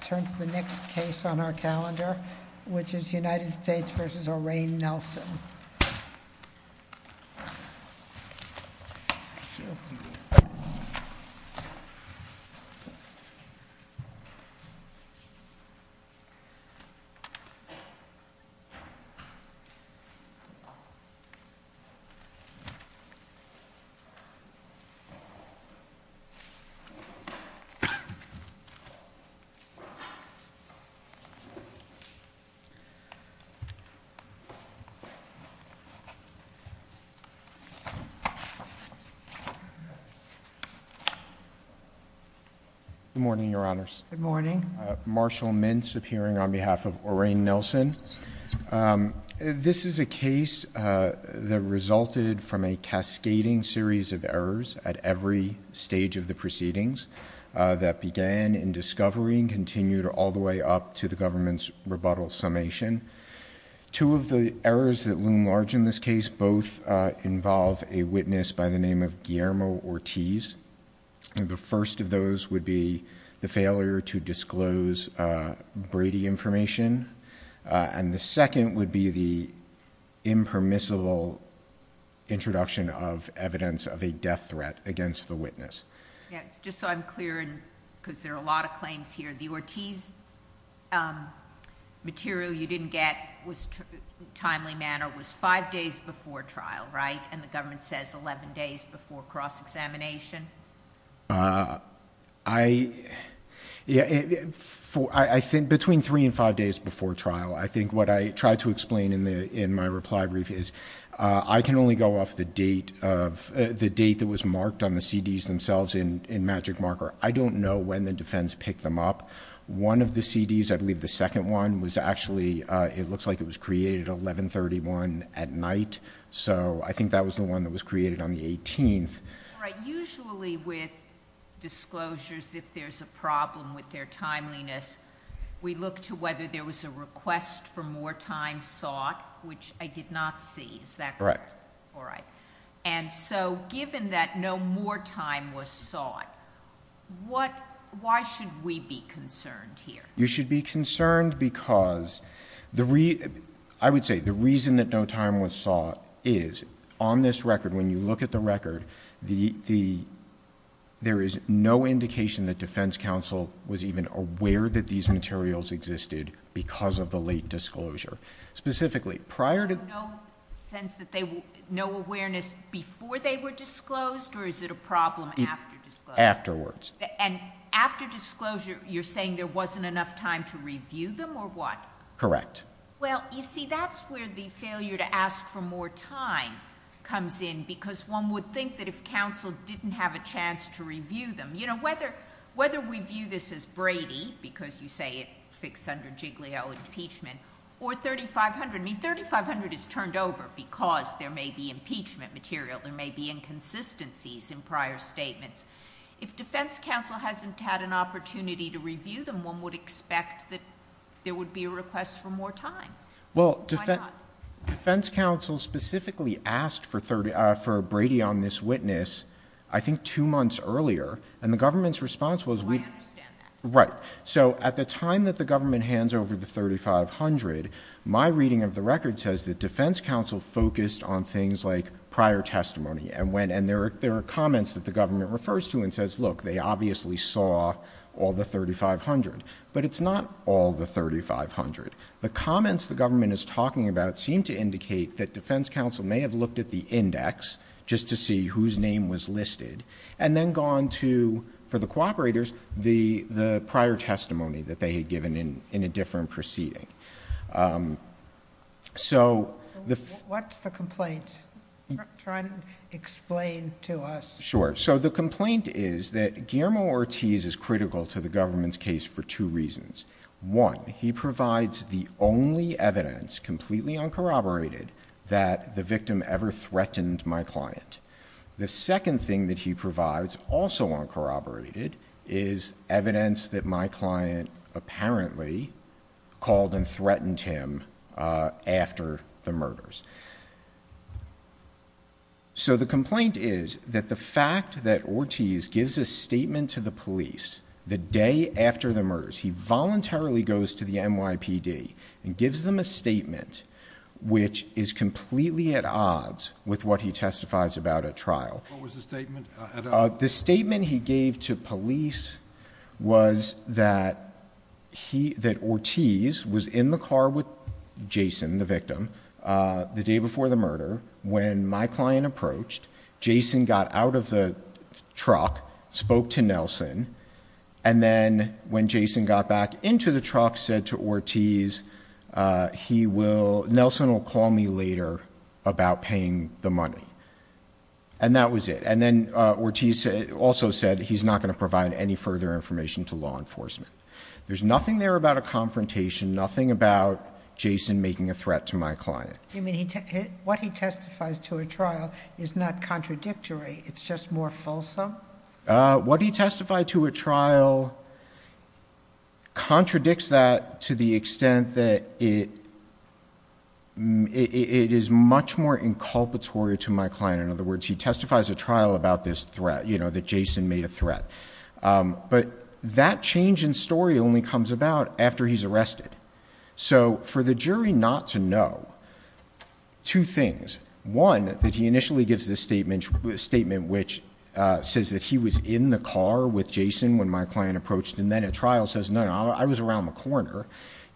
Turn to the next case on our calendar, which is United States v. Orane Nelson. Good morning, your honors. Good morning. Marshall Mintz appearing on behalf of Orane Nelson. This is a case that resulted from a cascading series of errors at every stage of the proceedings that began in discovery and continued all the way up to the government's rebuttal summation. Two of the errors that loom large in this case both involve a witness by the name of Guillermo Ortiz. The first of those would be the failure to disclose Brady information. And the second would be the impermissible introduction of evidence of a death threat against the witness. Just so I'm clear, because there are a lot of claims here, the Ortiz material you didn't get in a timely manner was five days before trial, right? And the government says 11 days before cross-examination? Between three and five days before trial. I think what I tried to explain in my reply brief is I can only go off the date that was marked on the CDs themselves in Magic Marker. I don't know when the defense picked them up. One of the CDs, I believe the second one was actually, it looks like it was created at 1131 at night. So I think that was the one that was created on the 18th. Usually with disclosures, if there's a problem with their timeliness, we look to whether there was a request for more time sought, which I did not see. Is that correct? Correct. All right. And so given that no more time was sought, why should we be concerned here? You should be concerned because... I would say the reason that no time was sought is on this record, when you look at the record, there is no indication that defense counsel was even aware that these materials existed because of the late disclosure. Specifically, prior to... No sense that they... no awareness before they were disclosed, or is it a problem after disclosure? Afterwards. And after disclosure, you're saying there wasn't enough time to review them, or what? Correct. Well, you see, that's where the failure to ask for more time comes in, because one would think that if counsel didn't have a chance to review them... you know, whether we view this as Brady, because you say it fits under Giglio impeachment, or 3500. I mean, 3500 is turned over because there may be impeachment material, there may be inconsistencies in prior statements. If defense counsel hasn't had an opportunity to review them, one would expect that there would be a request for more time. Why not? Well, defense counsel specifically asked for Brady on this witness, I think, two months earlier, and the government's response was... I understand that. Right. So at the time that the government hands over the 3500, my reading of the record says that defense counsel focused on things like prior testimony, and there are comments that the government refers to and says, look, they obviously saw all the 3500. But it's not all the 3500. The comments the government is talking about seem to indicate that defense counsel may have looked at the index, just to see whose name was listed, and then gone to, for the cooperators, the prior testimony that they had given in a different proceeding. So... What's the complaint? Try and explain to us. Sure. So the complaint is that Guillermo Ortiz is critical to the government's case for two reasons. One, he provides the only evidence, completely uncorroborated, that the victim ever threatened my client. The second thing that he provides, also uncorroborated, is evidence that my client apparently called and threatened him after the murders. So the complaint is that the fact that Ortiz gives a statement to the police the day after the murders, he voluntarily goes to the NYPD and gives them a statement which is completely at odds with what he testifies about at trial. What was the statement at all? The statement he gave to police was that Ortiz was in the car with Jason, the victim, the day before the murder, when my client approached, Jason got out of the back into the truck, said to Ortiz, Nelson will call me later about paying the money. And that was it. And then Ortiz also said he's not going to provide any further information to law enforcement. There's nothing there about a confrontation, nothing about Jason making a threat to my client. What he testifies to at trial is not contradictory, it's just more fulsome? What he testified to at trial contradicts that to the extent that it is much more inculpatory to my client. In other words, he testifies at trial about this threat, you know, that Jason made a threat. But that change in story only comes about after he's arrested. So for the jury not to know, two things, one, that he initially gives this statement which says that he was in the car with Jason when my client approached, and then at trial says, no, no, I was around the corner.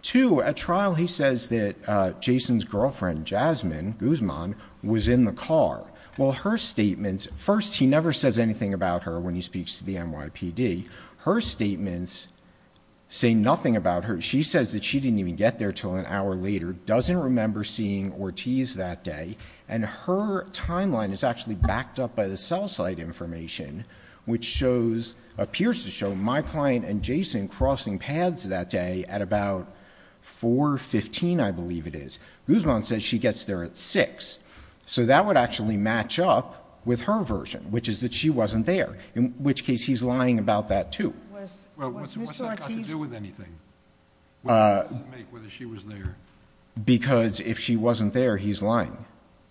Two, at trial he says that Jason's girlfriend, Jasmine Guzman, was in the car. Well, her statements, first, he never says anything about her when he speaks to the NYPD. Her statements say nothing about her. She says that she didn't even get there until an hour later, doesn't remember seeing Ortiz that day, and her timeline is actually backed up by the cell site information, which shows, appears to show my client and Jason crossing paths that day at about 4.15, I believe it is. Guzman says she gets there at 6. So that would actually match up with her version, which is that she wasn't there, in which case he's lying about that too. Well, what's that got to do with anything? What does that make, whether she was there? Because if she wasn't there, he's lying.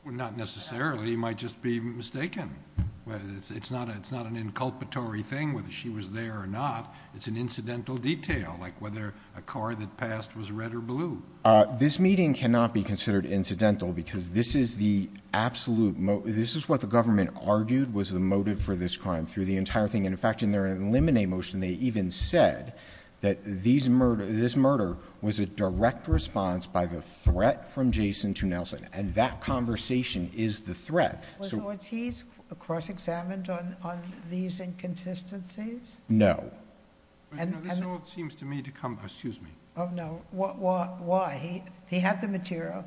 Well, not necessarily. He might just be mistaken. It's not an inculpatory thing, whether she was there or not. It's an incidental detail, like whether a car that passed was red or blue. This meeting cannot be considered incidental because this is the absolute, this is what the government argued was the motive for this crime through the They even said that this murder was a direct response by the threat from Jason to Nelson, and that conversation is the threat. Was Ortiz cross-examined on these inconsistencies? No. This all seems to me to come, excuse me. Oh, no. Why? He had the material.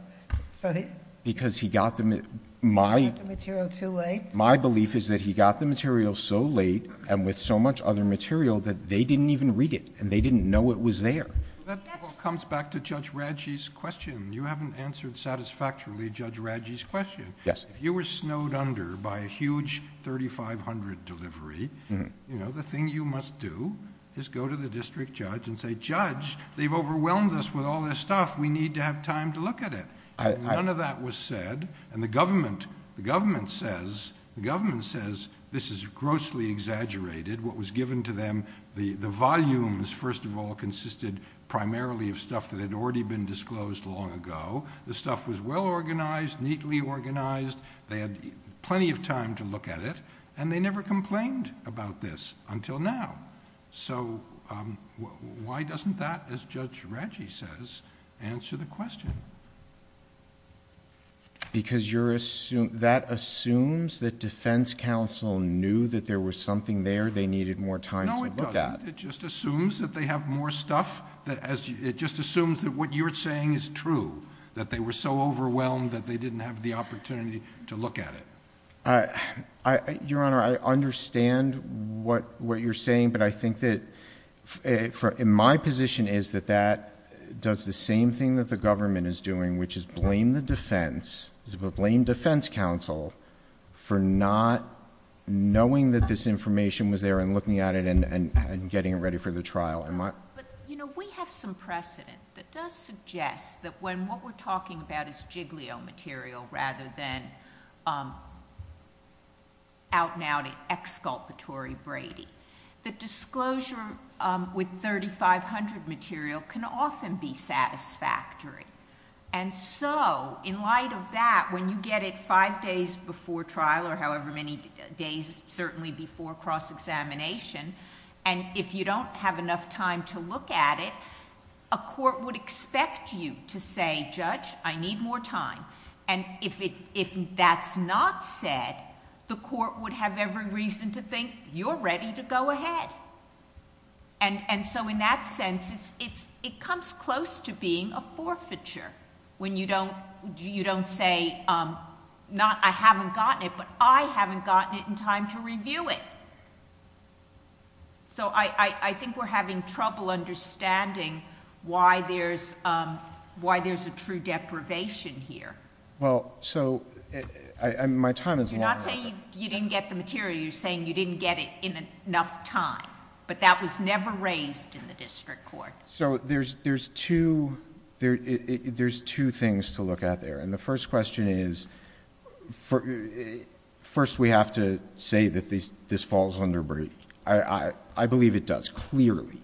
Because he got the material too late? My belief is that he got the material so late and with so much other material that they didn't even read it, and they didn't know it was there. That all comes back to Judge Radji's question. You haven't answered satisfactorily Judge Radji's question. If you were snowed under by a huge 3500 delivery, the thing you must do is go to the district judge and say, Judge, they've overwhelmed us with all this stuff. We need to have time to look at it. None of that was said, and the government says this is grossly exaggerated. What was given to them, the volumes, first of all, consisted primarily of stuff that had already been disclosed long ago. The stuff was well organized, neatly organized. They had plenty of time to look at it, and they never complained about this until now. So why doesn't that, as Judge Radji says, answer the question? Because that assumes that defense counsel knew that there was something there they needed more time to look at. No, it doesn't. It just assumes that they have more stuff. It just assumes that what you're saying is true, that they were so overwhelmed that they didn't have the opportunity to look at it. Your Honor, I understand what you're saying, but I think that my position is that that does the same thing that the government is doing, which is blame the defense, blame defense counsel, for not knowing that this information was there and looking at it and getting it ready for the trial. Am I... But, you know, we have some precedent that does suggest that when what we're talking about is giglio material rather than out-and-out exculpatory Brady, the disclosure with 3500 material can often be satisfactory. And so, in light of that, when you get it five days before trial or however many days certainly before cross-examination, and if you don't have enough time to look at it, a court would expect you to say, Judge, I need more time. And if that's not said, the court would have every reason to think, you're ready to go ahead. And so, in that sense, it comes close to being a forfeiture when you don't say, not I haven't gotten it, but I haven't gotten it in time to review it. So I think we're having trouble understanding why there's a true deprivation here. Well, so my time is longer. You're not saying you didn't get the material. You're saying you didn't get it in enough time, but that was never raised in the district court. So there's two things to look at there. And the first question is, first we have to say that this falls under Brady. I believe it does, clearly.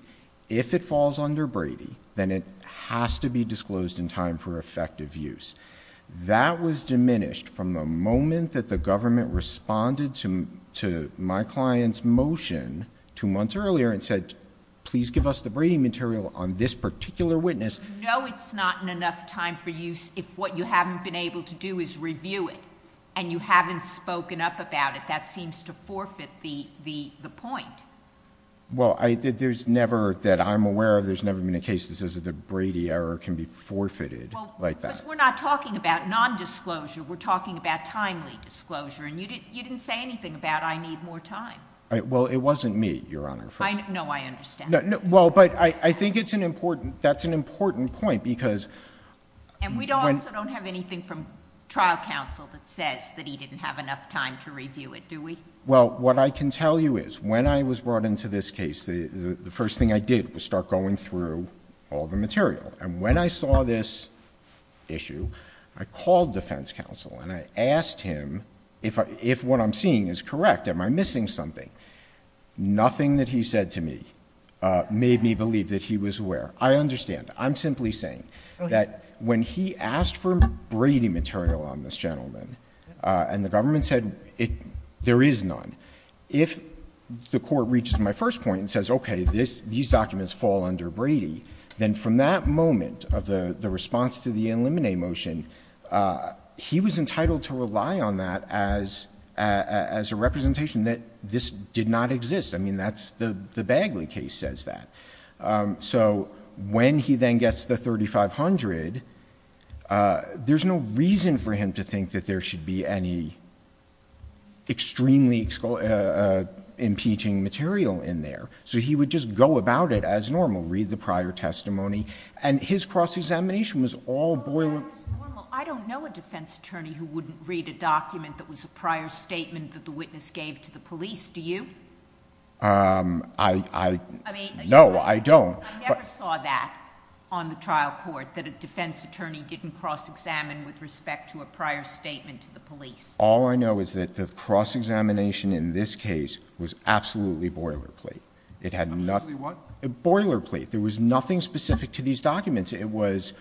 If it falls under Brady, then it has to be disclosed in time for effective use. That was diminished from the moment that the government responded to my client's motion two months earlier and said, please give us the Brady material on this particular witness... No, it's not in enough time for use if what you haven't been able to do is review it and you haven't spoken up about it. That seems to forfeit the point. Well, there's never... that I'm aware of, there's never been a case that says the Brady error can be forfeited like that. But we're not talking about nondisclosure. We're talking about timely disclosure. And you didn't say anything about I need more time. Well, it wasn't me, Your Honor. No, I understand. Well, but I think it's an important... that's an important point because... And we also don't have anything from trial counsel that says that he didn't have enough time to review it, do we? Well, what I can tell you is when I was brought into this case, the first thing I did was start going through all the material. And when I saw this issue, I called defense counsel and I asked him if what I'm seeing is correct, am I missing something? Nothing that he said to me made me believe that he was aware. I understand. I'm simply saying that when he asked for Brady material on this gentleman and the government said there is none, if the court reaches my first point and says, okay, these documents fall under Brady, then from that moment of the response to the eliminate motion, he was entitled to rely on that as a representation that this did not exist. I mean, that's the Bagley case says that. So when he then gets the 3500, there's no reason for him to think that there should be any extremely impeaching material in there. So he would just go about it as normal, read the prior testimony and his cross-examination was all boilerplate. I don't know a defense attorney who wouldn't read a document that was a prior statement that the witness gave to the police. Do you? No, I don't. I never saw that on the trial court, that a defense attorney didn't cross-examine with respect to a prior statement to the police. All I know is that the cross-examination in this case was absolutely boilerplate. Absolutely what? Boilerplate. There was nothing specific to these documents. It was,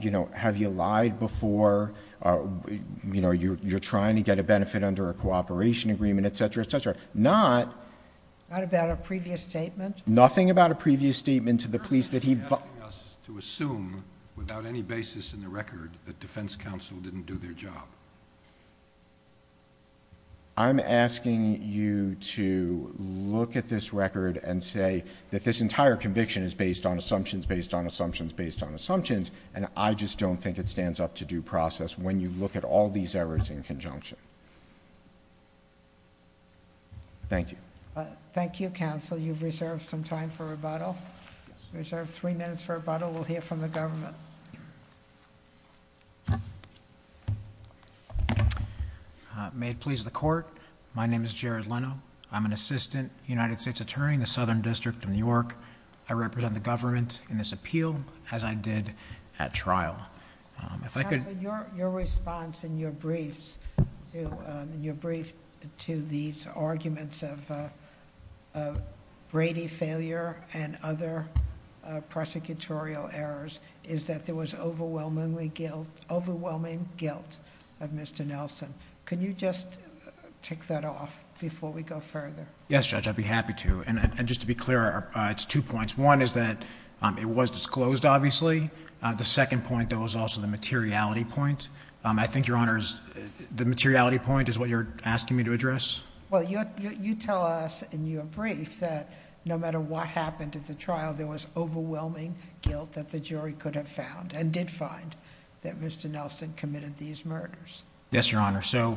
you know, have you lied before? You know, you're trying to get a benefit under a cooperation agreement, et cetera, et cetera. Not... Not about a previous statement? Nothing about a previous statement to the police that he... You're asking us to assume without any basis in the record that defense counsel didn't do their job. I'm asking you to look at this record and say that this entire conviction is based on assumptions, based on assumptions, based on assumptions, and I just don't think it stands up to due process when you look at all these errors in conjunction. Thank you. Thank you, counsel. You've reserved some time for rebuttal. Reserve three minutes for rebuttal. We'll hear from the government. May it please the court, my name is Jared Leno. I'm an assistant United States attorney in the Southern District of New York. I represent the government in this appeal as I did at trial. If I could... Counsel, your response in your briefs to these arguments of Brady failure and other prosecutorial errors is that there was overwhelming guilt of Mr. Nelson. Can you just take that off before we go further? Yes, Judge, I'd be happy to. And just to be clear, it's two points. One is that it was disclosed, obviously. The second point, though, is also the materiality point. I think, Your Honors, the materiality point is what you're asking me to address? Well, you tell us in your brief that no matter what happened at the trial, there was overwhelming guilt that the jury could have found and did find that Mr. Nelson committed these murders. Yes, Your Honor. So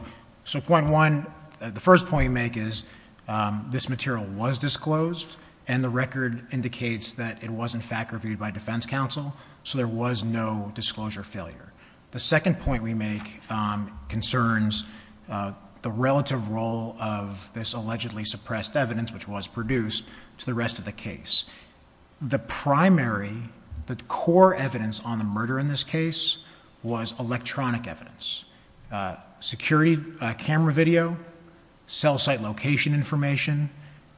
point one, the first point you make is this material was disclosed and the record indicates that it was in fact reviewed by defense counsel, so there was no disclosure failure. The second point we make concerns the relative role of this allegedly suppressed evidence, which was produced, to the rest of the case. The primary, the core evidence on the murder in this case was electronic evidence, security camera video, cell site location information,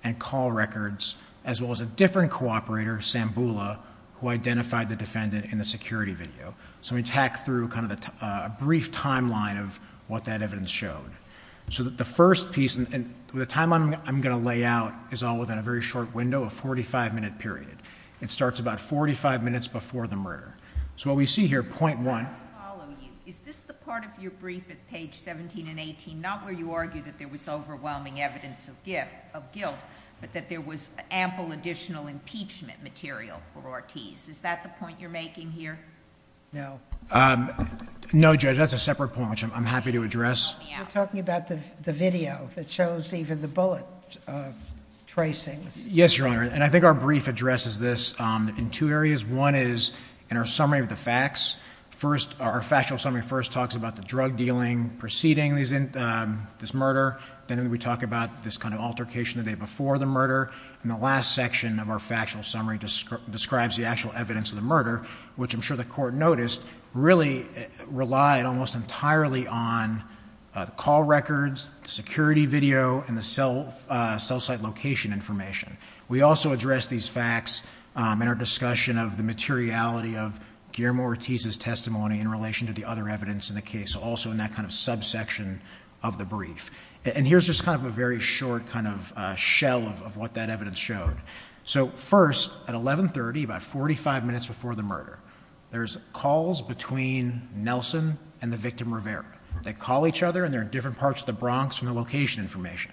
and call records, as well as a different cooperator, Sambula, who identified the defendant in the security video. So we tack through kind of a brief timeline of what that evidence showed. So the first piece, and the timeline I'm going to lay out is all within a very short window, a 45-minute period. It starts about 45 minutes before the murder. So what we see here, point one... I want to follow you. Is this the part of your brief at page 17 and 18, not where you argue that there was overwhelming evidence of guilt, but that there was ample additional impeachment material for Ortiz? Is that the point you're making here? No. No, Judge. That's a separate point, which I'm happy to address. You're talking about the video that shows even the bullet tracings. Yes, Your Honor. And I think our brief addresses this in two areas. One is in our summary of the facts. First, our factual summary first talks about the drug dealing preceding this murder. Then we talk about this kind of altercation the day before the murder. And the last section of our factual summary describes the actual evidence of the murder, which I'm sure the Court noticed really relied almost entirely on call records, security video, and the cell site location information. We also address these facts in our discussion of the materiality of Guillermo Ortiz's testimony in relation to the other evidence in the case, also in that kind of subsection of the brief. And here's just kind of a very short kind of shell of what that evidence showed. So first, at 1130, about 45 minutes before the murder, there's calls between Nelson and the victim Rivera. They call each other, and they're in different parts of the Bronx from the location information.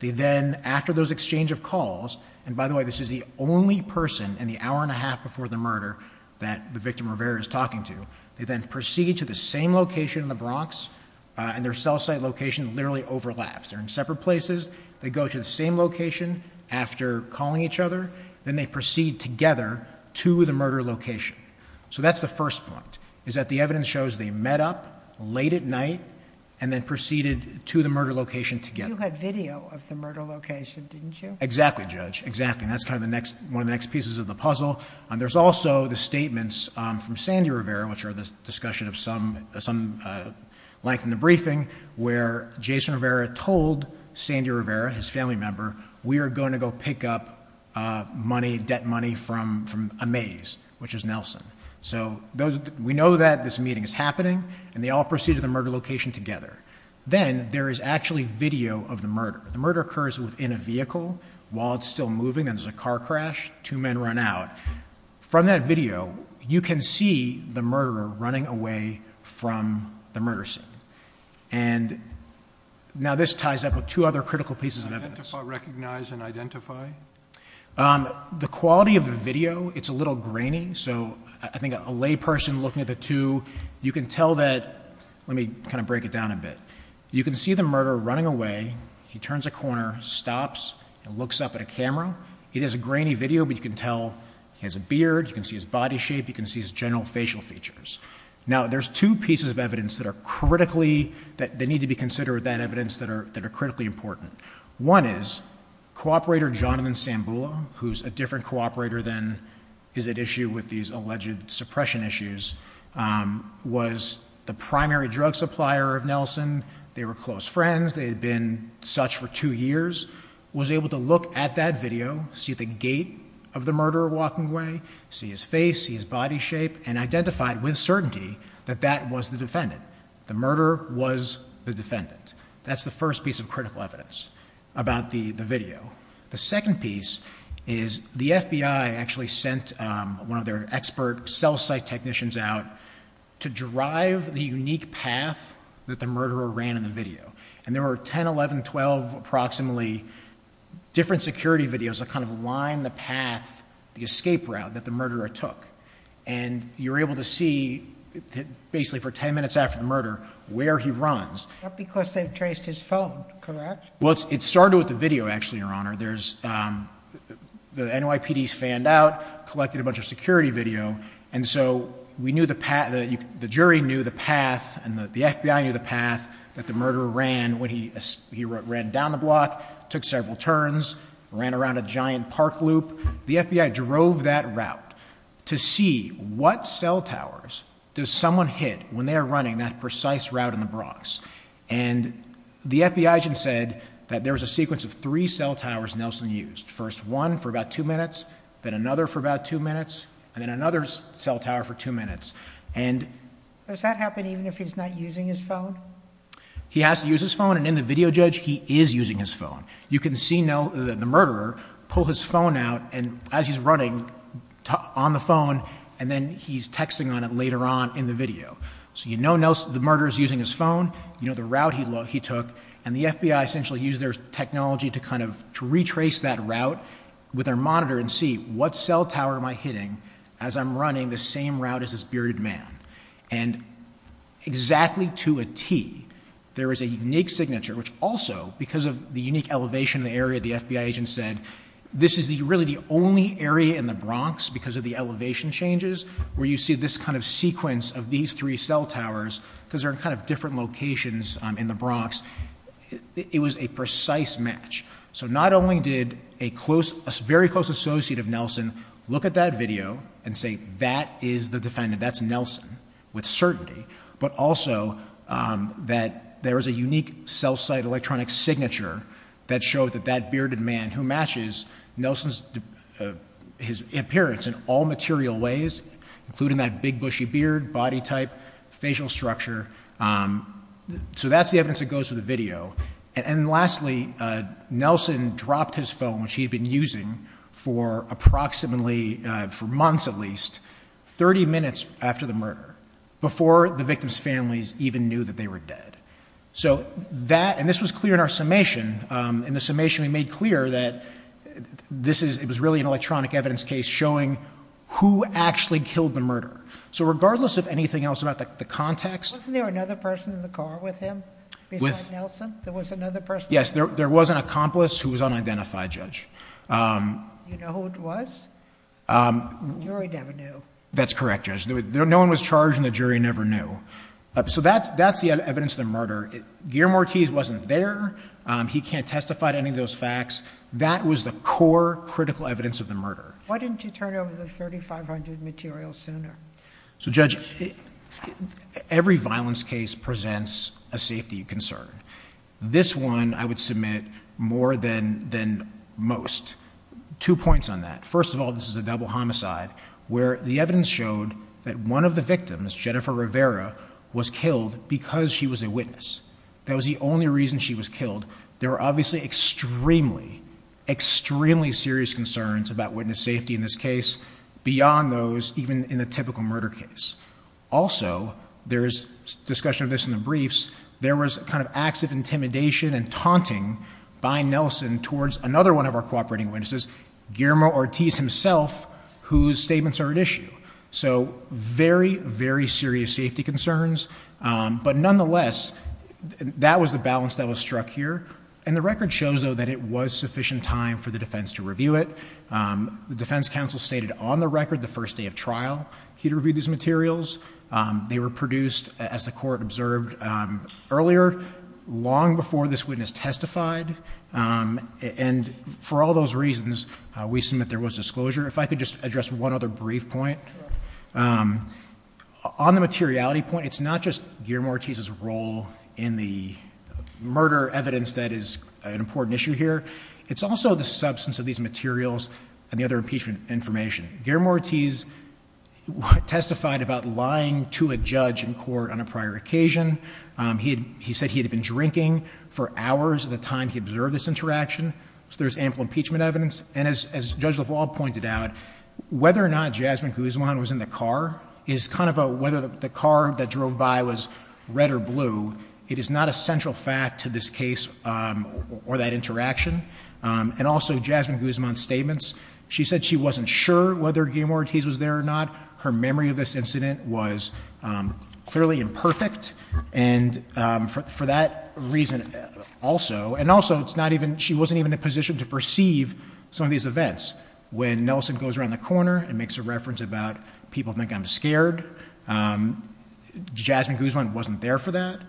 They then, after those exchange of calls, and by the way, this is the only person in the hour and a half before the murder that the victim Rivera is talking to, they then proceed to the same location in the Bronx, and their location overlaps. They're in separate places. They go to the same location after calling each other. Then they proceed together to the murder location. So that's the first point, is that the evidence shows they met up late at night and then proceeded to the murder location together. You had video of the murder location, didn't you? Exactly, Judge. Exactly. And that's kind of one of the next pieces of the puzzle. There's also the statements from Sandy Rivera, which are the discussion of some length in the briefing, where Jason Rivera told Sandy Rivera, his family member, we are going to go pick up money, debt money, from a maze, which is Nelson. So we know that this meeting is happening, and they all proceed to the murder location together. Then there is actually video of the murder. The murder occurs within a vehicle. While it's still moving, there's a car crash. Two men run out. From that video, you can see the murderer running away from the murder scene. Now this ties up with two other critical pieces of evidence. Identify, recognize, and identify? The quality of the video, it's a little grainy. So I think a layperson looking at the two, you can tell that, let me kind of break it down a bit. You can see the murderer running away. He turns a corner, stops, and looks up at a camera. It is a grainy video, but you can tell he has a beard. You can see his body shape. You can see his general facial features. Now there's two pieces of evidence that are critically, that need to be considered, that evidence that are critically important. One is, cooperator Jonathan Sambula, who is a different cooperator than is at issue with these alleged suppression issues, was the primary drug supplier of Nelson. They were close friends. They had been such for two years. He was able to look at that video, see the gait of the murderer walking away, see his face, see his body shape, and identify with certainty that that was the defendant. The murderer was the defendant. That's the first piece of critical evidence about the video. The second piece is the FBI actually sent one of their expert cell site technicians out to drive the unique path that the murderer ran in the video. There were 10, 11, 12, approximately, different security videos that kind of line the path, the escape route that the murderer took. You're able to see, basically for 10 minutes after the murder, where he runs. Not because they traced his phone, correct? It started with the video, actually, Your Honor. The NYPD fanned out, collected a bunch of security video. The jury knew the path and the FBI knew the path that the murderer ran when he ran down the block, took several turns, ran around a giant park loop. The FBI drove that route to see what cell towers does someone hit when they are running that precise route in the Bronx. And the FBI agent said that there was a sequence of three cell towers Nelson used. First one for about two minutes, then another for about two minutes, and then another cell tower for two minutes. Does that happen even if he's not using his phone? He has to use his phone, and in the video, Judge, he is using his phone. You can see the murderer pull his phone out as he's running on the phone, and then he's texting on it later on in the video. So you know the murderer is using his phone, you know the route he took, and the FBI essentially used their technology to retrace that route with their monitor and see, what cell tower am I hitting as I'm running the same route as this bearded man? And exactly to a T, there is a unique signature, which also, because of the unique elevation in the area, the FBI agent said, this is really the only area in the Bronx, because of the elevation changes, where you see this kind of sequence of these three cell towers, because they're in kind of different locations in the Bronx. It was a precise match. So not only did a very close associate of Nelson look at that video and say, that is the defendant, that's Nelson, with certainty, but also that there is a unique cell site electronic signature that showed that that bearded man who matches Nelson's appearance in all material ways, including that big bushy beard, body type, facial structure. So that's the evidence that goes to the video. And lastly, Nelson dropped his phone, which he had been using for approximately, for months at least, 30 minutes after the murder, before the victim's families even knew that they were dead. So that, and this was clear in our summation. In the summation, we made clear that this is, it was really an electronic evidence case showing who actually killed the murderer. So regardless of anything else about the context. Wasn't there another person in the car with him beside Nelson? There was another person? Yes, there was an accomplice who was unidentified, Judge. You know who it was? The jury never knew. That's correct, Judge. No one was charged and the jury never knew. So that's the evidence of the murder. Guillermo Ortiz wasn't there. He can't testify to any of those facts. That was the core critical evidence of the murder. Why didn't you turn over the 3,500 materials sooner? So Judge, every violence case presents a safety concern. This one I would submit more than, than most. Two points on that. First of all, this is a double homicide where the evidence showed that one of the victims, Jennifer Rivera, was killed because she was a witness. That was the only reason she was killed. There were obviously extremely, extremely serious concerns about witness safety in this case beyond those even in the typical murder case. Also, there is discussion of this in the briefs. There was kind of acts of intimidation and taunting by Nelson towards another one of our cooperating witnesses, Guillermo Ortiz himself, whose statements are at issue. So very, very serious safety concerns. But nonetheless, that was the balance that was struck here. And the record shows, though, that it was sufficient time for the defense to review it. The defense counsel stated on the record the first day of trial he had reviewed these materials. They were produced, as the Court observed earlier, long before this witness testified. And for all those reasons, we assume that there was disclosure. If I could just address one other brief point. On the materiality point, it's not just Guillermo Ortiz's role in the murder evidence that is an important issue here. It's also the substance of these materials and the other impeachment information. Guillermo Ortiz testified about lying to a judge in court on a prior occasion. He said he had been drinking for hours at the time he observed this interaction. So there's ample impeachment evidence. And as Judge LaValle pointed out, whether or not Jasmine Guzman was in the car is kind of a whether the car that drove by was red or blue. It is not a central fact to this case or that interaction. And also Jasmine Guzman's statements. She said she wasn't sure whether Guillermo Ortiz was there or not. Her memory of this incident was clearly imperfect. And for that reason also, and also it's not even, she wasn't even in a position to perceive some of these events. When Nelson goes around the corner and makes a reference about people think I'm scared, Jasmine Guzman wasn't there for that.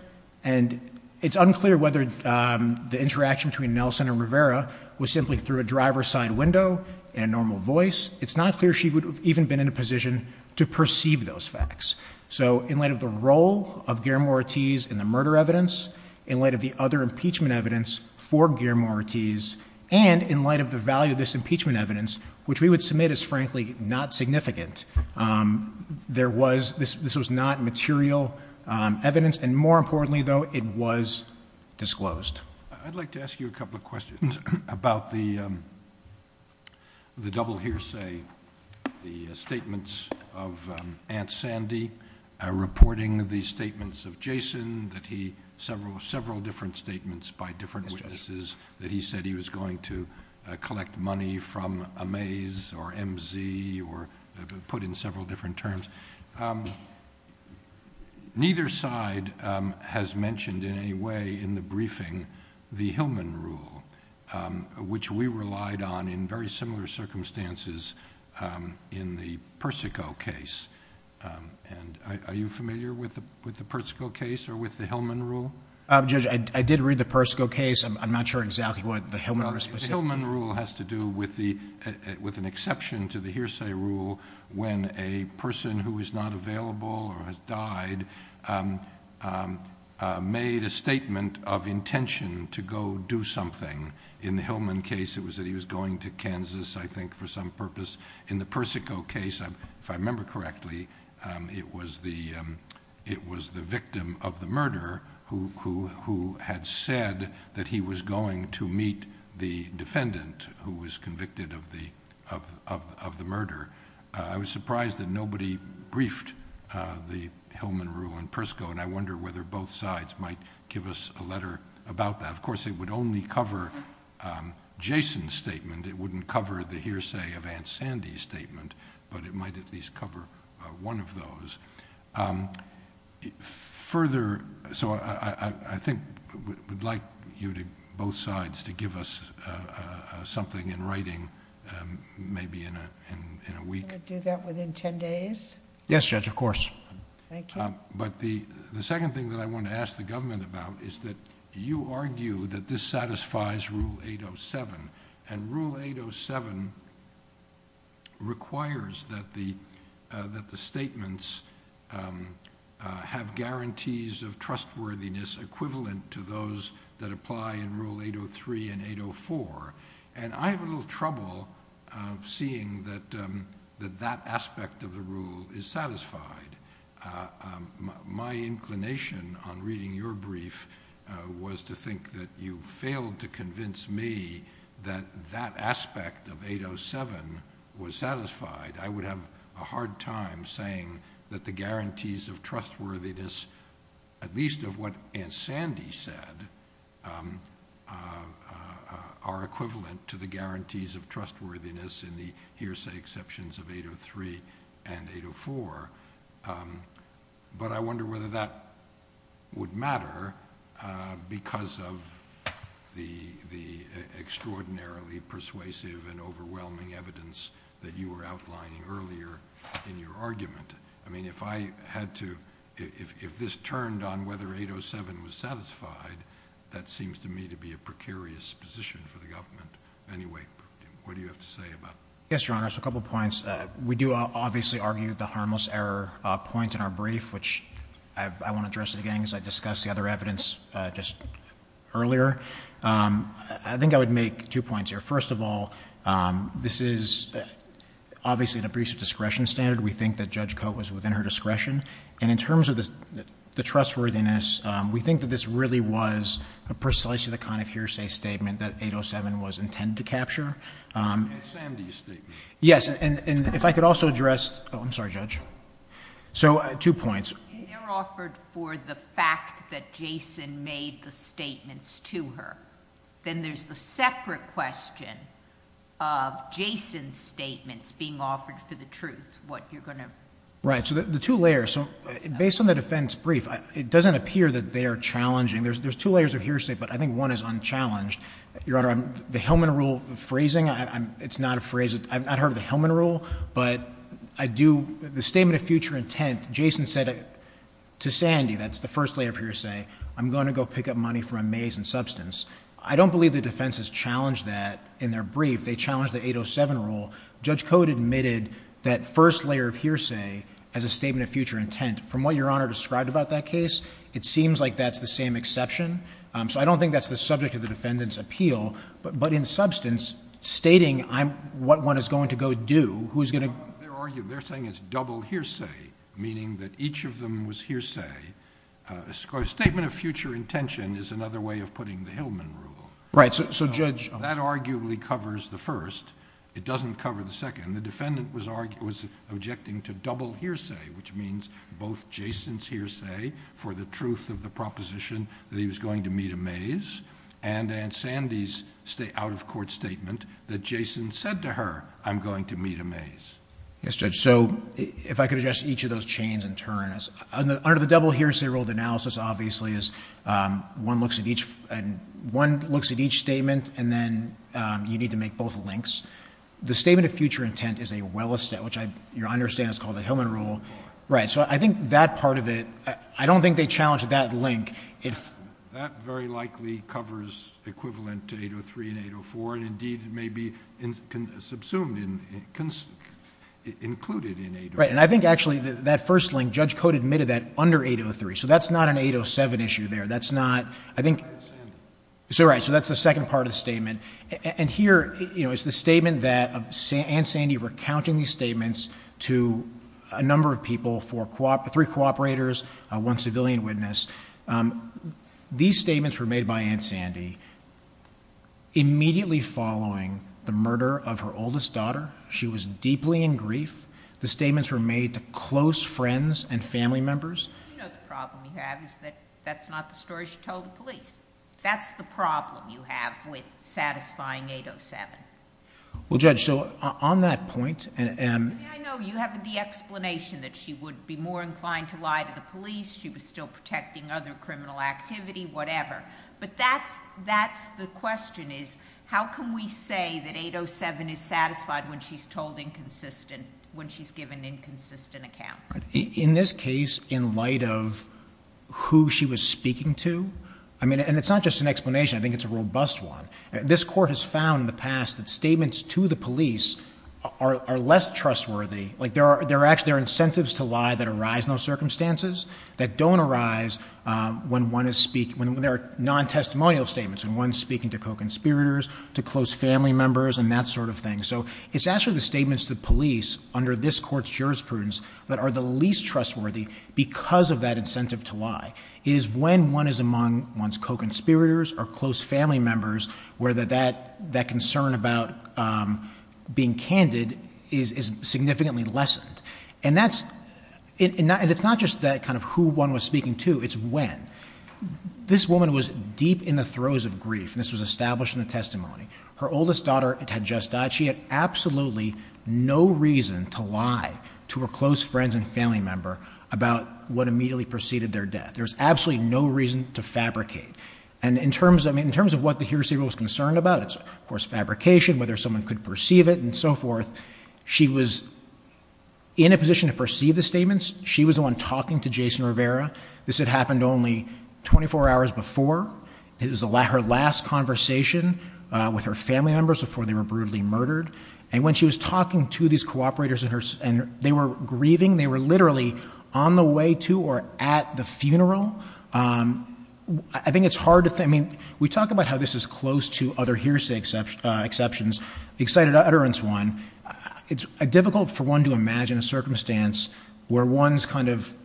And it's unclear whether the interaction between Nelson and Rivera was simply through a driver's side window and a normal voice. It's not clear she would have even been in a position to perceive those facts. So in light of the role of Guillermo Ortiz in the murder evidence, in light of the other impeachment evidence for Guillermo Ortiz, and in light of the value of this impeachment evidence, which we would submit as frankly not significant, this was not material evidence. And more importantly, though, it was disclosed. I'd like to ask you a couple of questions about the double hearsay, the statements of Aunt Sandy reporting the statements of Jason, that he, several different statements by different witnesses, that he said he was going to collect money from Amaze or MZ or put in several different terms. Neither side has mentioned in any way in the briefing the Hillman Rule, which we relied on in very similar circumstances in the Persico case. Are you familiar with the Persico case or with the Hillman Rule? Judge, I did read the Persico case. I'm not sure exactly what the Hillman Rule is specifically. The Hillman Rule has to do with an exception to the hearsay rule when a person who is not available or has died made a statement of intention to go do something. In the Hillman case, it was that he was going to Kansas, I think, for some purpose. In the Persico case, if I remember correctly, it was the victim of the murder who had said that he was going to meet the defendant who was convicted of the murder. I was surprised that nobody briefed the Hillman Rule in Persico, and I wonder whether both sides might give us a letter about that. Of course, it would only cover Jason's statement. It wouldn't cover the hearsay of Aunt Sandy's statement, but it might at least cover one of those. I think we'd like you, both sides, to give us something in writing, maybe in a week. Can I do that within ten days? Yes, Judge, of course. Thank you. The second thing that I want to ask the government about is that you argue that this satisfies Rule 807, and Rule 807 requires that the statements have guarantees of trustworthiness equivalent to those that apply in Rule 803 and 804, and I have a little trouble seeing that that aspect of the rule is satisfied. My inclination on reading your brief was to think that you failed to convince me that that aspect of 807 was satisfied. I would have a hard time saying that the guarantees of trustworthiness, at least of what Aunt Sandy said, are equivalent to the guarantees of trustworthiness in the hearsay exceptions of 803 and 804, but I wonder whether that would matter because of the extraordinarily persuasive and overwhelming evidence that you were outlining earlier in your argument. I mean, if I had to, if this turned on whether 807 was satisfied, that seems to me to be a precarious position for the government. Anyway, what do you have to say about that? Yes, Your Honor, just a couple points. We do obviously argue the harmless error point in our brief, which I won't address again because I discussed the other evidence just earlier. I think I would make two points here. First of all, this is obviously an abusive discretion standard. We think that Judge Cote was within her discretion, and in terms of the trustworthiness, we think that this really was precisely the kind of hearsay statement that 807 was intended to capture. And Sandy's statement. Yes, and if I could also address, oh, I'm sorry, Judge. So, two points. If they're offered for the fact that Jason made the statements to her, then there's the separate question of Jason's statements being offered for the truth, what you're going to... Right, so the two layers. So, based on the defense brief, it doesn't appear that they are challenging. There's two layers of hearsay, but I think one is unchallenged. Your Honor, the Hillman Rule phrasing, it's not a phrase, I've not heard of the Hillman Rule, but I do, the statement of future intent, Jason said to Sandy, that's the first layer of hearsay, I'm going to go pick up money from a maze in substance. I don't believe the defense has challenged that in their brief. They challenged the 807 Rule. Judge Code admitted that first layer of hearsay as a statement of future intent. From what Your Honor described about that case, it seems like that's the same exception. So, I don't think that's the subject of the defendant's appeal, but in substance, stating what one is going to go do, who's going to... They're arguing, they're saying it's double hearsay, meaning that each of them was hearsay. A statement of future intention is another way of putting the Hillman Rule. Right, so Judge... That arguably covers the first. It doesn't cover the second. The defendant was objecting to double hearsay, which means both Jason's hearsay for the truth of the proposition that he was going to meet a maze, and Aunt Sandy's out-of-court statement that Jason said to her, I'm going to meet a maze. Yes, Judge. So, if I could address each of those chains in turn. Under the double hearsay rule of analysis, obviously, is one looks at each statement and then you need to make both links. The statement of future intent is a well-established, which I understand is called the Hillman Rule. Right, so I think that part of it, I don't think they challenged that link. That very likely covers equivalent to 803 and 804, and indeed, it may be subsumed in, included in 804. Right, and I think, actually, that first link, Judge Cote admitted that under 803, so that's not an 807 issue there. That's not... So, right, that's the second part of the statement. And here, you know, it's the statement that Aunt Sandy recounting these statements to a number of people, three cooperators, one civilian witness. These statements were made by Aunt Sandy immediately following the murder of her oldest daughter. She was deeply in grief. The statements were made to close friends and family members. You know the problem you have is that that's not the story she told the police. That's the problem you have with satisfying 807. Well, Judge, so on that point... I know you have the explanation that she would be more inclined to lie to the police, she was still protecting other criminal activity, whatever. But that's the question is, how can we say that 807 is satisfied when she's told inconsistent... when she's given inconsistent accounts? In this case, in light of who she was speaking to... I mean, and it's not just an explanation, I think it's a robust one. This court has found in the past that statements to the police are less trustworthy. Like, there are incentives to lie that arise in those circumstances that don't arise when one is speaking... when there are non-testimonial statements and one's speaking to co-conspirators, to close family members and that sort of thing. So it's actually the statements to the police under this court's jurisprudence that are the least trustworthy because of that incentive to lie. It is when one is among one's co-conspirators or close family members where that concern about being candid is significantly lessened. And that's... And it's not just that kind of who one was speaking to, it's when. This woman was deep in the throes of grief. This was established in the testimony. Her oldest daughter had just died. She had absolutely no reason to lie to her close friends and family member about what immediately preceded their death. There was absolutely no reason to fabricate. And in terms of what the hearsay was concerned about, it's, of course, fabrication, whether someone could perceive it and so forth. She was in a position to perceive the statements. She was the one talking to Jason Rivera. This had happened only 24 hours before. It was her last conversation with her family members before they were brutally murdered. And when she was talking to these co-operators and they were grieving, they were literally on the way to or at the funeral. I think it's hard to think... I mean, we talk about how this is close to other hearsay exceptions. The excited utterance one, it's difficult for one to imagine a circumstance where one's kind of...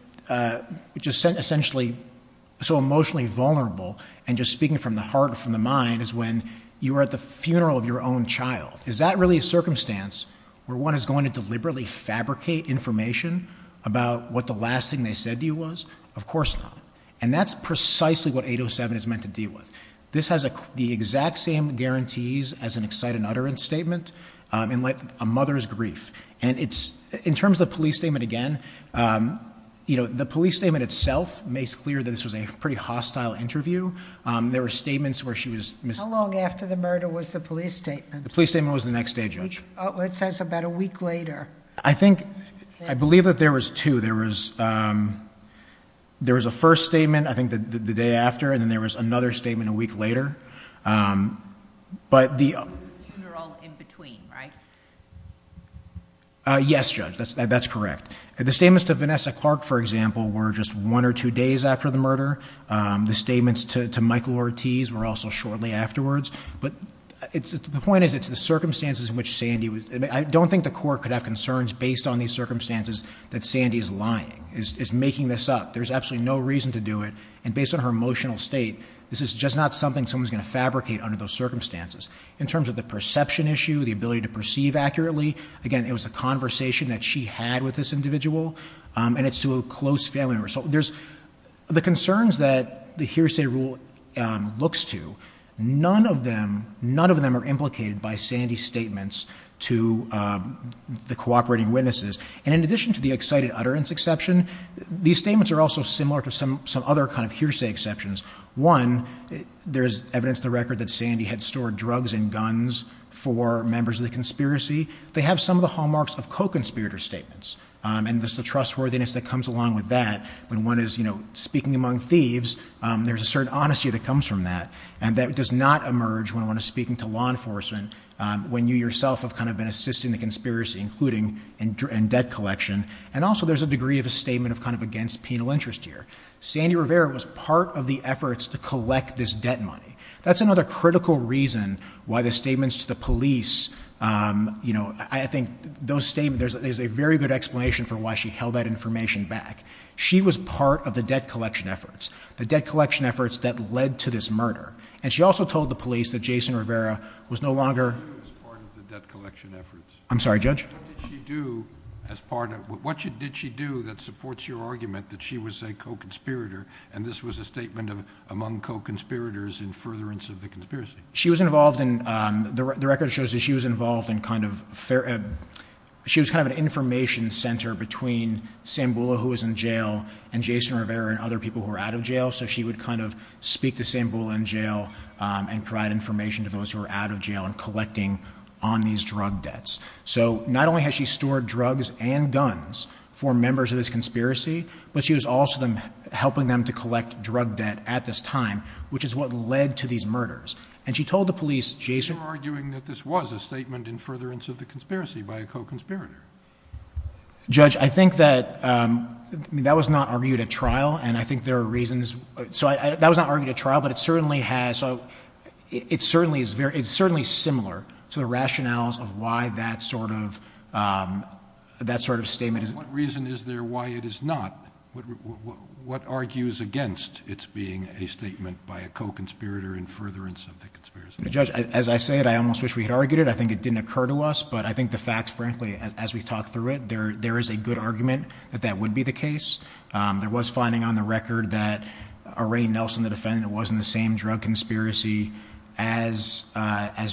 so emotionally vulnerable, and just speaking from the heart or from the mind, is when you are at the funeral of your own child. Is that really a circumstance where one is going to deliberately fabricate information about what the last thing they said to you was? Of course not. And that's precisely what 807 is meant to deal with. This has the exact same guarantees as an excited utterance statement in light of a mother's grief. And in terms of the police statement again, you know, the police statement itself makes clear that this was a pretty hostile interview. There were statements where she was... How long after the murder was the police statement? The police statement was the next day, Judge. It says about a week later. I think... I believe that there was two. There was a first statement, I think, the day after, and then there was another statement a week later. But the... The funeral in between, right? Yes, Judge, that's correct. The statements to Vanessa Clark, for example, were just one or two days after the murder. The statements to Michael Ortiz were also shortly afterwards. But the point is, it's the circumstances in which Sandy... I don't think the court could have concerns based on these circumstances that Sandy's lying, is making this up. There's absolutely no reason to do it. And based on her emotional state, this is just not something someone's going to fabricate under those circumstances. In terms of the perception issue, the ability to perceive accurately, again, it was a conversation that she had with this individual, and it's to a close family member. So there's... The concerns that the hearsay rule looks to, none of them... None of them are implicated by Sandy's statements to the cooperating witnesses. And in addition to the excited utterance exception, these statements are also similar to some other kind of hearsay exceptions. One, there's evidence in the record that Sandy had stored drugs and guns for members of the conspiracy. They have some of the hallmarks of co-conspirator statements. And there's the trustworthiness that comes along with that. When one is, you know, speaking among thieves, there's a certain honesty that comes from that. And that does not emerge when one is speaking to law enforcement, when you yourself have kind of been assisting the conspiracy, including in debt collection. And also there's a degree of a statement of kind of against penal interest here. Sandy Rivera was part of the efforts to collect this debt money. That's another critical reason why the statements to the police... You know, I think those statements... There's a very good explanation for why she held that information back. She was part of the debt collection efforts, the debt collection efforts that led to this murder. And she also told the police that Jason Rivera was no longer... What did she do as part of the debt collection efforts? I'm sorry, Judge? What did she do as part of... What did she do that supports your argument that she was a co-conspirator, and this was a statement among co-conspirators in furtherance of the conspiracy? She was involved in... The record shows that she was involved in kind of... She was kind of an information centre between Sambula, who was in jail, and Jason Rivera and other people who were out of jail. So she would kind of speak to Sambula in jail and provide information to those who were out of jail and collecting on these drug debts. So not only has she stored drugs and guns for members of this conspiracy, but she was also helping them to collect drug debt at this time, which is what led to these murders. And she told the police Jason... You're arguing that this was a statement in furtherance of the conspiracy by a co-conspirator. Judge, I think that... I mean, that was not argued at trial, and I think there are reasons... So that was not argued at trial, but it certainly has... It certainly is very... It's certainly similar to the rationales of why that sort of... that sort of statement is... What reason is there why it is not? What argues against its being a statement by a co-conspirator in furtherance of the conspiracy? Judge, as I say it, I almost wish we had argued it. I think it didn't occur to us, but I think the facts, frankly, as we've talked through it, there is a good argument that that would be the case. There was finding on the record that a Ray Nelson, the defendant, was in the same drug conspiracy as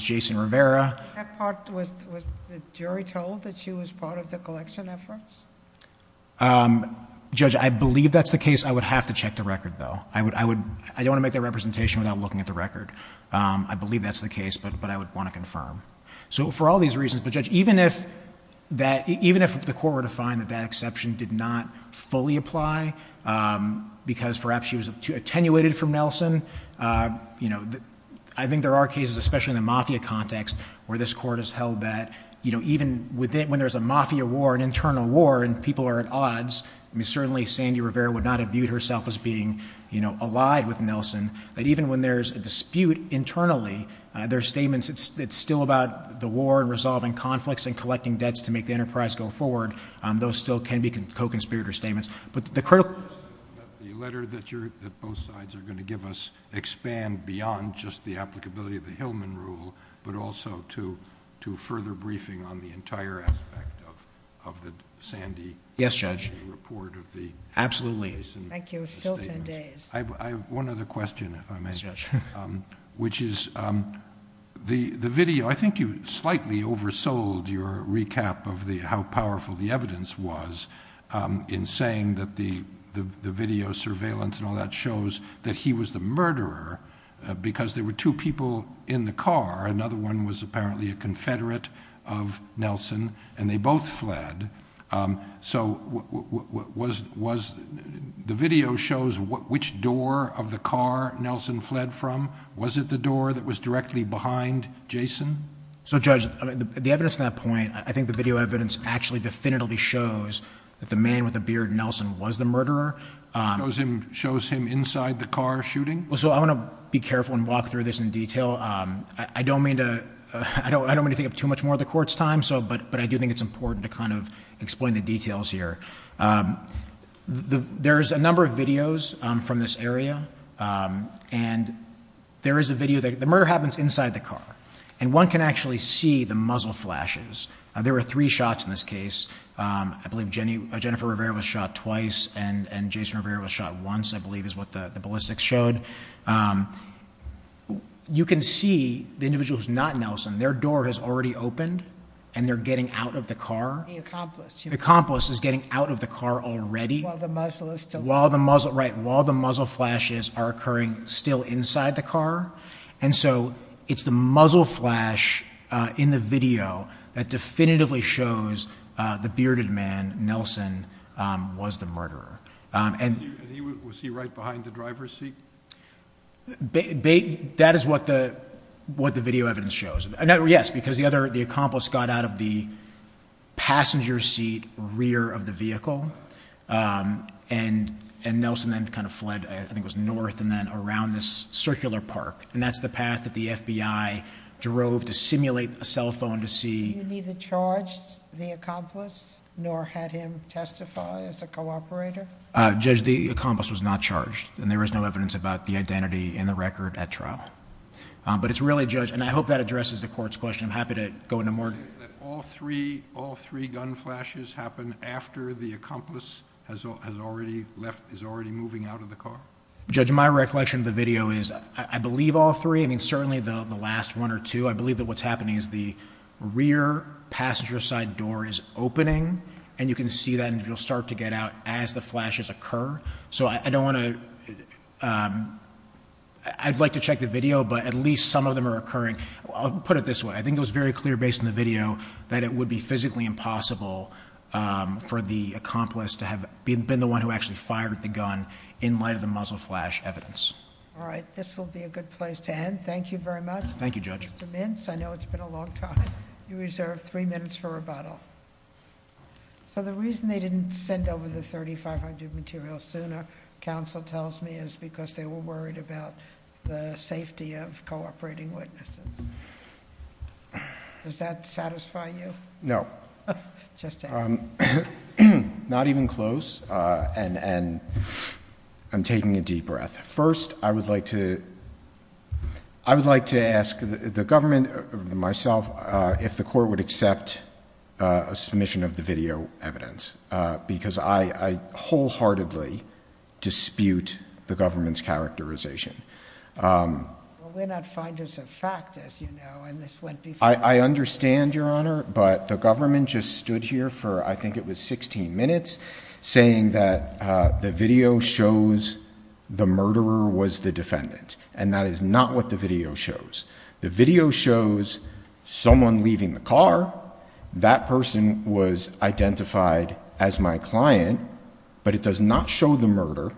Jason Rivera. That part, was the jury told that she was part of the collection efforts? Judge, I believe that's the case. I would have to check the record, though. I don't want to make that representation without looking at the record. I believe that's the case, but I would want to confirm. So for all these reasons... But, Judge, even if the court were to find that that exception did not fully apply, because perhaps she was attenuated from Nelson, you know, I think there are cases, especially in the mafia context, where this Court has held that, you know, even when there's a mafia war, an internal war, and people are at odds, I mean, certainly Sandy Rivera would not have viewed herself as being, you know, allied with Nelson, that even when there's a dispute internally, there are statements, it's still about the war and resolving conflicts and collecting debts to make the enterprise go forward. Those still can be co-conspirator statements. But the critical... The letter that both sides are going to give us expand beyond just the applicability of the Hillman rule, but also to further briefing on the entire aspect of the Sandy... Yes, Judge. Absolutely. Thank you. Still ten days. I have one other question, if I may. Yes, Judge. Which is, the video... I think you slightly oversold your recap of how powerful the evidence was in saying that the video surveillance and all that shows that he was the murderer, because there were two people in the car. Another one was apparently a confederate of Nelson, and they both fled. So was... The video shows which door of the car Nelson fled from. Was it the door that was directly behind Jason? So, Judge, the evidence at that point, I think the video evidence actually definitively shows that the man with the beard, Nelson, was the murderer. Shows him inside the car shooting? So I want to be careful and walk through this in detail. I don't mean to think up too much more of the court's time, but I do think it's important to kind of explain the details here. There's a number of videos from this area, and there is a video... The murder happens inside the car, and one can actually see the muzzle flashes. There were three shots in this case. and Jason Rivera was shot once, I believe, is what the ballistics showed. You can see the individual who's not Nelson. Their door has already opened, and they're getting out of the car. The accomplice. The accomplice is getting out of the car already. While the muzzle is still... Right, while the muzzle flashes are occurring still inside the car. And so it's the muzzle flash in the video that definitively shows the bearded man, Nelson, was the murderer. Was he right behind the driver's seat? That is what the video evidence shows. Yes, because the accomplice got out of the passenger seat rear of the vehicle, and Nelson then kind of fled, I think it was north, and then around this circular park, and that's the path that the FBI drove to simulate a cell phone to see. Did you neither charge the accomplice nor had him testify as a cooperator? Judge, the accomplice was not charged, and there is no evidence about the identity in the record at trial. But it's really, Judge, and I hope that addresses the court's question. I'm happy to go into more... All three gun flashes happened after the accomplice is already moving out of the car? Judge, my recollection of the video is I believe all three. I mean, certainly the last one or two. I believe that what's happening is the rear passenger side door is opening, and you can see that, and you'll start to get out as the flashes occur. So I don't want to... I'd like to check the video, but at least some of them are occurring. I'll put it this way. I think it was very clear based on the video that it would be physically impossible for the accomplice to have been the one who actually fired the gun in light of the muzzle flash evidence. All right, this will be a good place to end. Thank you very much. Thank you, Judge. Mr. Mintz, I know it's been a long time. You reserve three minutes for rebuttal. The reason they didn't send over the 3500 materials sooner, counsel tells me, is because they were worried about the safety of cooperating witnesses. Does that satisfy you? No. Just saying. Not even close, and I'm taking a deep breath. First, I would like to ask the government, myself, if the court would accept a submission of the video evidence, because I wholeheartedly dispute the government's characterization. Well, we're not finders of fact, as you know, and this went before. I understand, Your Honor, but the government just stood here for I think it was 16 minutes saying that the video shows the murderer was the defendant, and that is not what the video shows. The video shows someone leaving the car. That person was identified as my client, but it does not show the murder,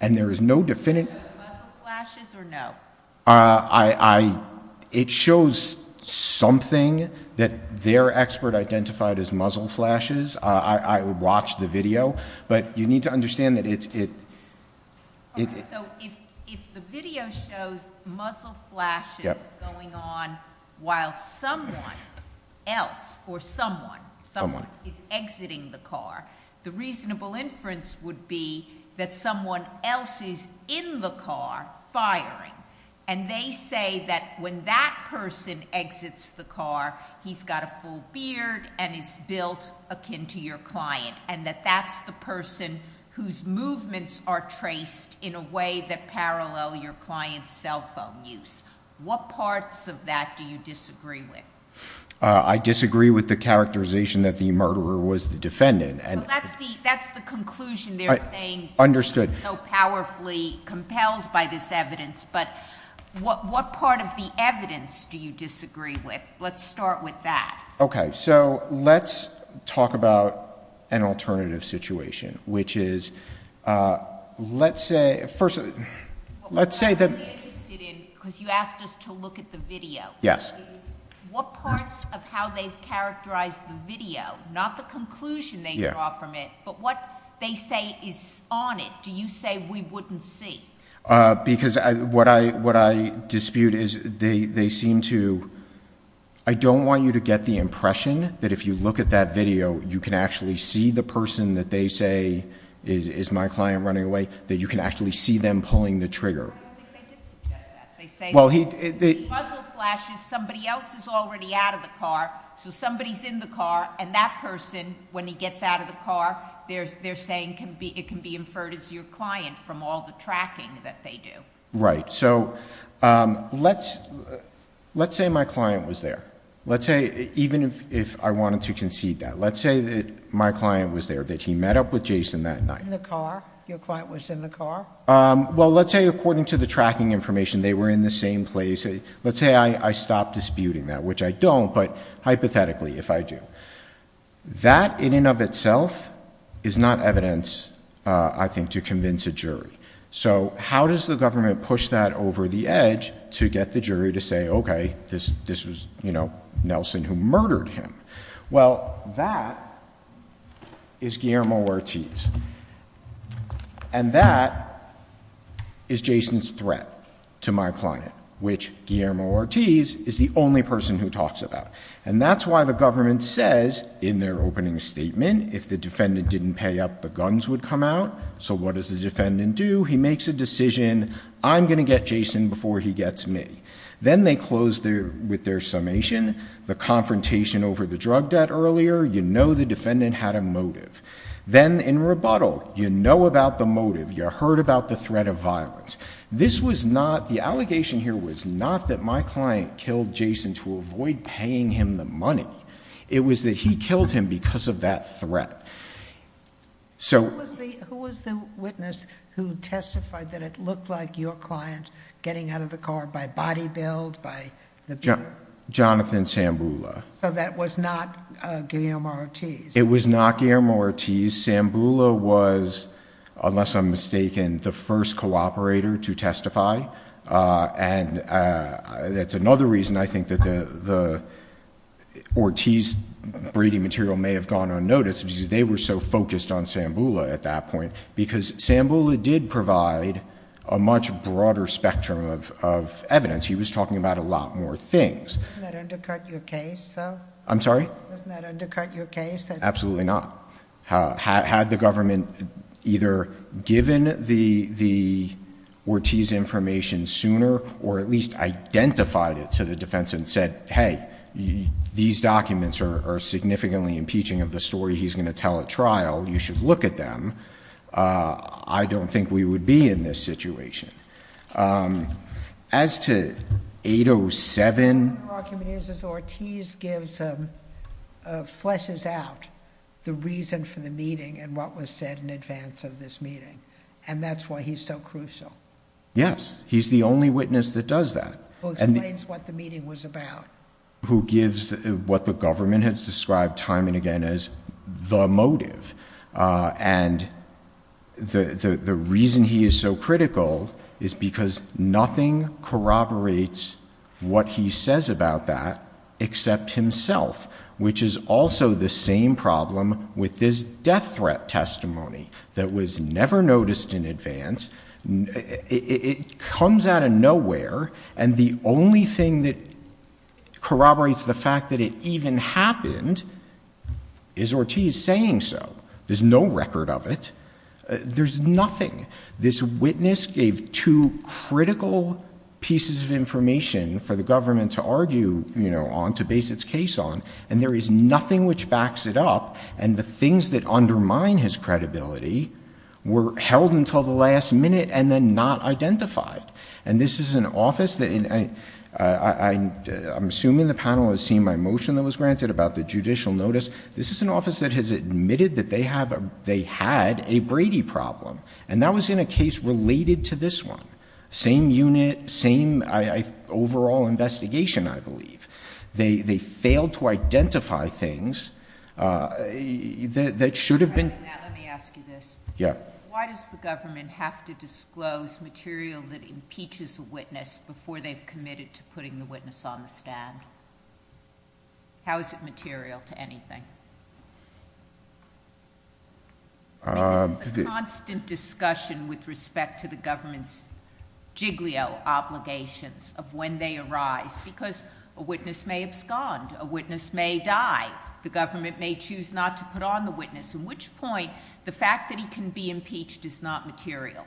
and there is no definitive... Was it muzzle flashes or no? It shows something that their expert identified as muzzle flashes. I watched the video, but you need to understand that it... Okay, so if the video shows muzzle flashes going on while someone else or someone is exiting the car, the reasonable inference would be that someone else is in the car firing, and they say that when that person exits the car, he's got a full beard and is built akin to your client, and that that's the person whose movements are traced in a way that parallel your client's cell phone use. What parts of that do you disagree with? I disagree with the characterization that the murderer was the defendant. Well, that's the conclusion they're saying... Understood.... so powerfully compelled by this evidence, but what part of the evidence do you disagree with? Let's start with that. Okay, so let's talk about an alternative situation, which is let's say... What we're really interested in, because you asked us to look at the video, what parts of how they've characterized the video, not the conclusion they draw from it, but what they say is on it, do you say we wouldn't see? Because what I dispute is they seem to... I don't want you to get the impression that if you look at that video, you can actually see the person that they say is my client running away, that you can actually see them pulling the trigger. I don't think they did suggest that. They say... Well, he... The puzzle flash is somebody else is already out of the car, so somebody's in the car, and that person, when he gets out of the car, they're saying it can be inferred as your client from all the tracking that they do. Right. So let's say my client was there. Let's say, even if I wanted to concede that, let's say that my client was there, that he met up with Jason that night. In the car? Your client was in the car? Well, let's say according to the tracking information, they were in the same place. Let's say I stop disputing that, which I don't, but hypothetically, if I do. That in and of itself is not evidence, I think, to convince a jury. So how does the government push that over the edge to get the jury to say, okay, this was, you know, Nelson who murdered him? Well, that is Guillermo Ortiz, and that is Jason's threat to my client, which Guillermo Ortiz is the only person who talks about. And that's why the government says in their opening statement, if the defendant didn't pay up, the guns would come out. So what does the defendant do? He makes a decision, I'm going to get Jason before he gets me. Then they close with their summation, the confrontation over the drug debt earlier. You know the defendant had a motive. Then in rebuttal, you know about the motive. You heard about the threat of violence. This was not, the allegation here was not that my client killed Jason to avoid paying him the money. It was that he killed him because of that threat. So... Who was the witness who testified that it looked like your client getting out of the car by body build, by the... Jonathan Sambula. So that was not Guillermo Ortiz. It was not Guillermo Ortiz. Sambula was, unless I'm mistaken, the first cooperator to testify. And that's another reason I think that the Ortiz breeding material may have gone unnoticed because they were so focused on Sambula at that point. Because Sambula did provide a much broader spectrum of evidence. He was talking about a lot more things. Doesn't that undercut your case though? I'm sorry? Doesn't that undercut your case? Absolutely not. Had the government either given the Ortiz information sooner or at least identified it to the defense and said, hey, these documents are significantly impeaching of the story he's going to tell at trial. You should look at them. I don't think we would be in this situation. As to 807...... And that's why he's so crucial. Yes, he's the only witness that does that. He explains what the meeting was about. He gives what the government has described time and again as the motive. And the reason he is so critical is because nothing corroborates what he says about that except himself, which is also the same problem with this death threat testimony that was never noticed in advance. It comes out of nowhere, and the only thing that corroborates the fact that it even happened is Ortiz saying so. There's no record of it. There's nothing. This witness gave two critical pieces of information for the government to base its case on, and there is nothing which backs it up. And the things that undermine his credibility were held until the last minute and then not identified. And this is an office that... I'm assuming the panel has seen my motion that was granted about the judicial notice. This is an office that has admitted that they had a Brady problem, and that was in a case related to this one. Same unit, same overall investigation, I believe. They failed to identify things that should have been... Let me ask you this. Yeah. Why does the government have to disclose material that impeaches a witness before they've committed to putting the witness on the stand? How is it material to anything? I mean, this is a constant discussion with respect to the government's when they arise, because a witness may abscond. A witness may die. The government may choose not to put on the witness, in which point the fact that he can be impeached is not material.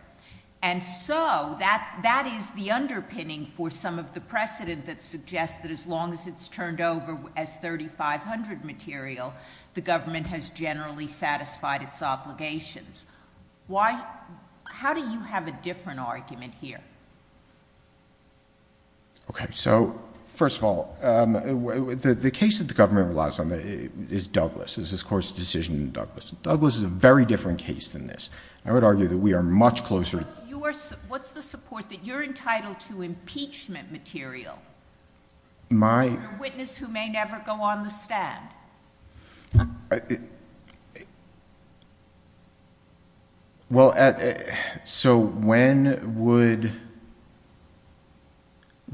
And so that is the underpinning for some of the precedent that suggests that as long as it's turned over as 3500 material, the government has generally satisfied its obligations. How do you have a different argument here? Okay. So first of all, the case that the government relies on is Douglas. This is, of course, a decision in Douglas. Douglas is a very different case than this. I would argue that we are much closer... What's the support that you're entitled to impeachment material? My... Well, so when would...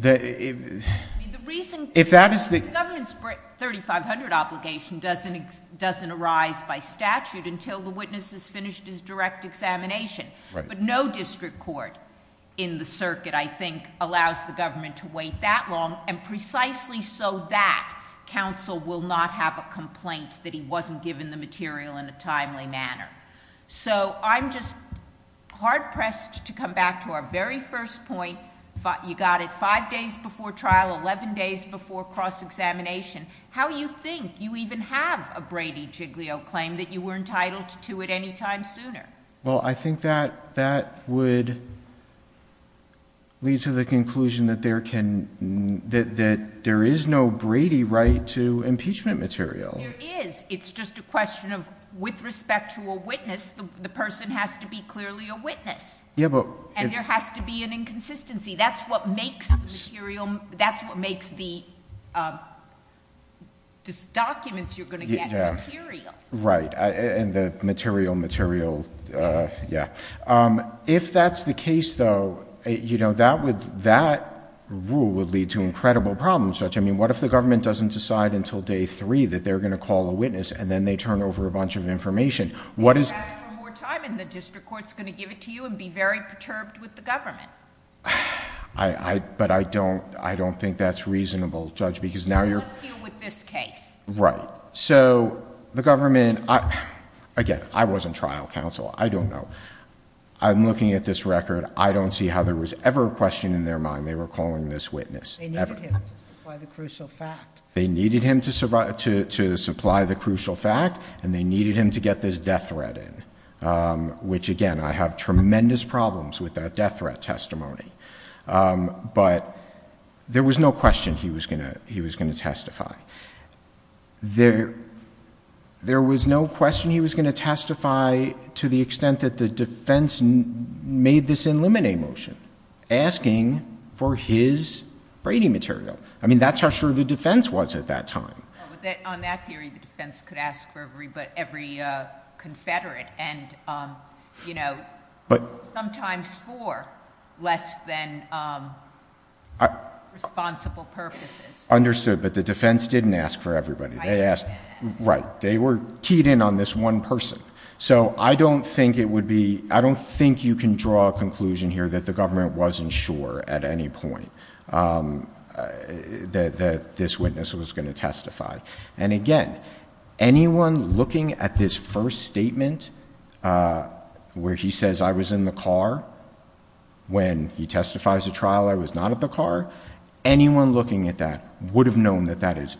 I mean, the reason... If that is the... The government's 3500 obligation doesn't arise by statute until the witness has finished his direct examination. Right. But no district court in the circuit, I think, allows the government to wait that long, and precisely so that counsel will not have a complaint that he wasn't given the material in a timely manner. So I'm just hard-pressed to come back to our very first point. You got it five days before trial, 11 days before cross-examination. How do you think you even have a Brady-Jiglio claim that you were entitled to it any time sooner? Well, I think that that would lead to the conclusion that there can... that there is no Brady right to impeachment material. There is. It's just a question of... With respect to a witness, the person has to be clearly a witness. Yeah, but... And there has to be an inconsistency. That's what makes the material... That's what makes the documents you're going to get material. Right. And the material, material... Yeah. If that's the case, though, you know, that would... That rule would lead to incredible problems. I mean, what if the government doesn't decide until day three that they're going to call a witness and then they turn over a bunch of information? What is... You ask for more time and the district court is going to give it to you and be very perturbed with the government. But I don't think that's reasonable, Judge, because now you're... Let's deal with this case. Right. So the government... Again, I wasn't trial counsel. I don't know. I'm looking at this record. I don't see how there was ever a question in their mind they were calling this witness, ever. They needed him to supply the crucial fact. They needed him to supply the crucial fact and they needed him to get this death threat in, which again, I have tremendous problems with that death threat testimony. But there was no question he was going to testify. There was no question he was going to testify to the extent that the defense made this in limine motion, asking for his Brady material. I mean, that's how sure the defense was at that time. On that theory, the defense could ask for every Confederate and sometimes for less than responsible purposes. Understood. But the defense didn't ask for everybody. Right. They were keyed in on this one person. So I don't think it would be... I don't think you can draw a conclusion here that the government wasn't sure at any point that this witness was going to testify. And again, anyone looking at this first statement where he says, I was in the car when he testifies to trial, I was not at the car, anyone looking at that would have known that that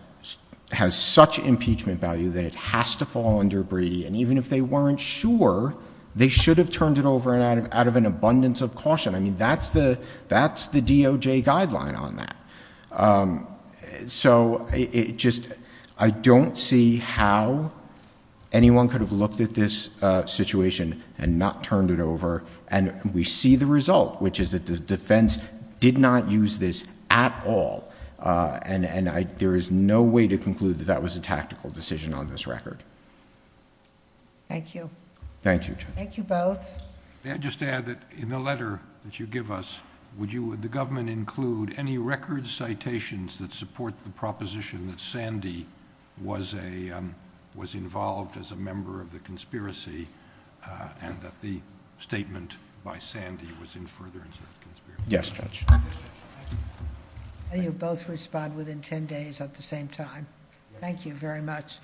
has such impeachment value that it has to fall under Brady. And even if they weren't sure, they should have turned it over out of an abundance of caution. I mean, that's the DOJ guideline on that. So it just... I don't see how anyone could have looked at this situation and not turned it over, and we see the result, which is that the defense did not use this at all. And there is no way to conclude that that was a tactical decision on this record. Thank you. Thank you, Judge. Thank you both. May I just add that in the letter that you give us, would the government include any record citations that support the proposition that Sandy was involved as a member of the conspiracy, and that the statement by Sandy was in furtherance of the conspiracy? Yes, Judge. You both respond within 10 days at the same time. Thank you very much.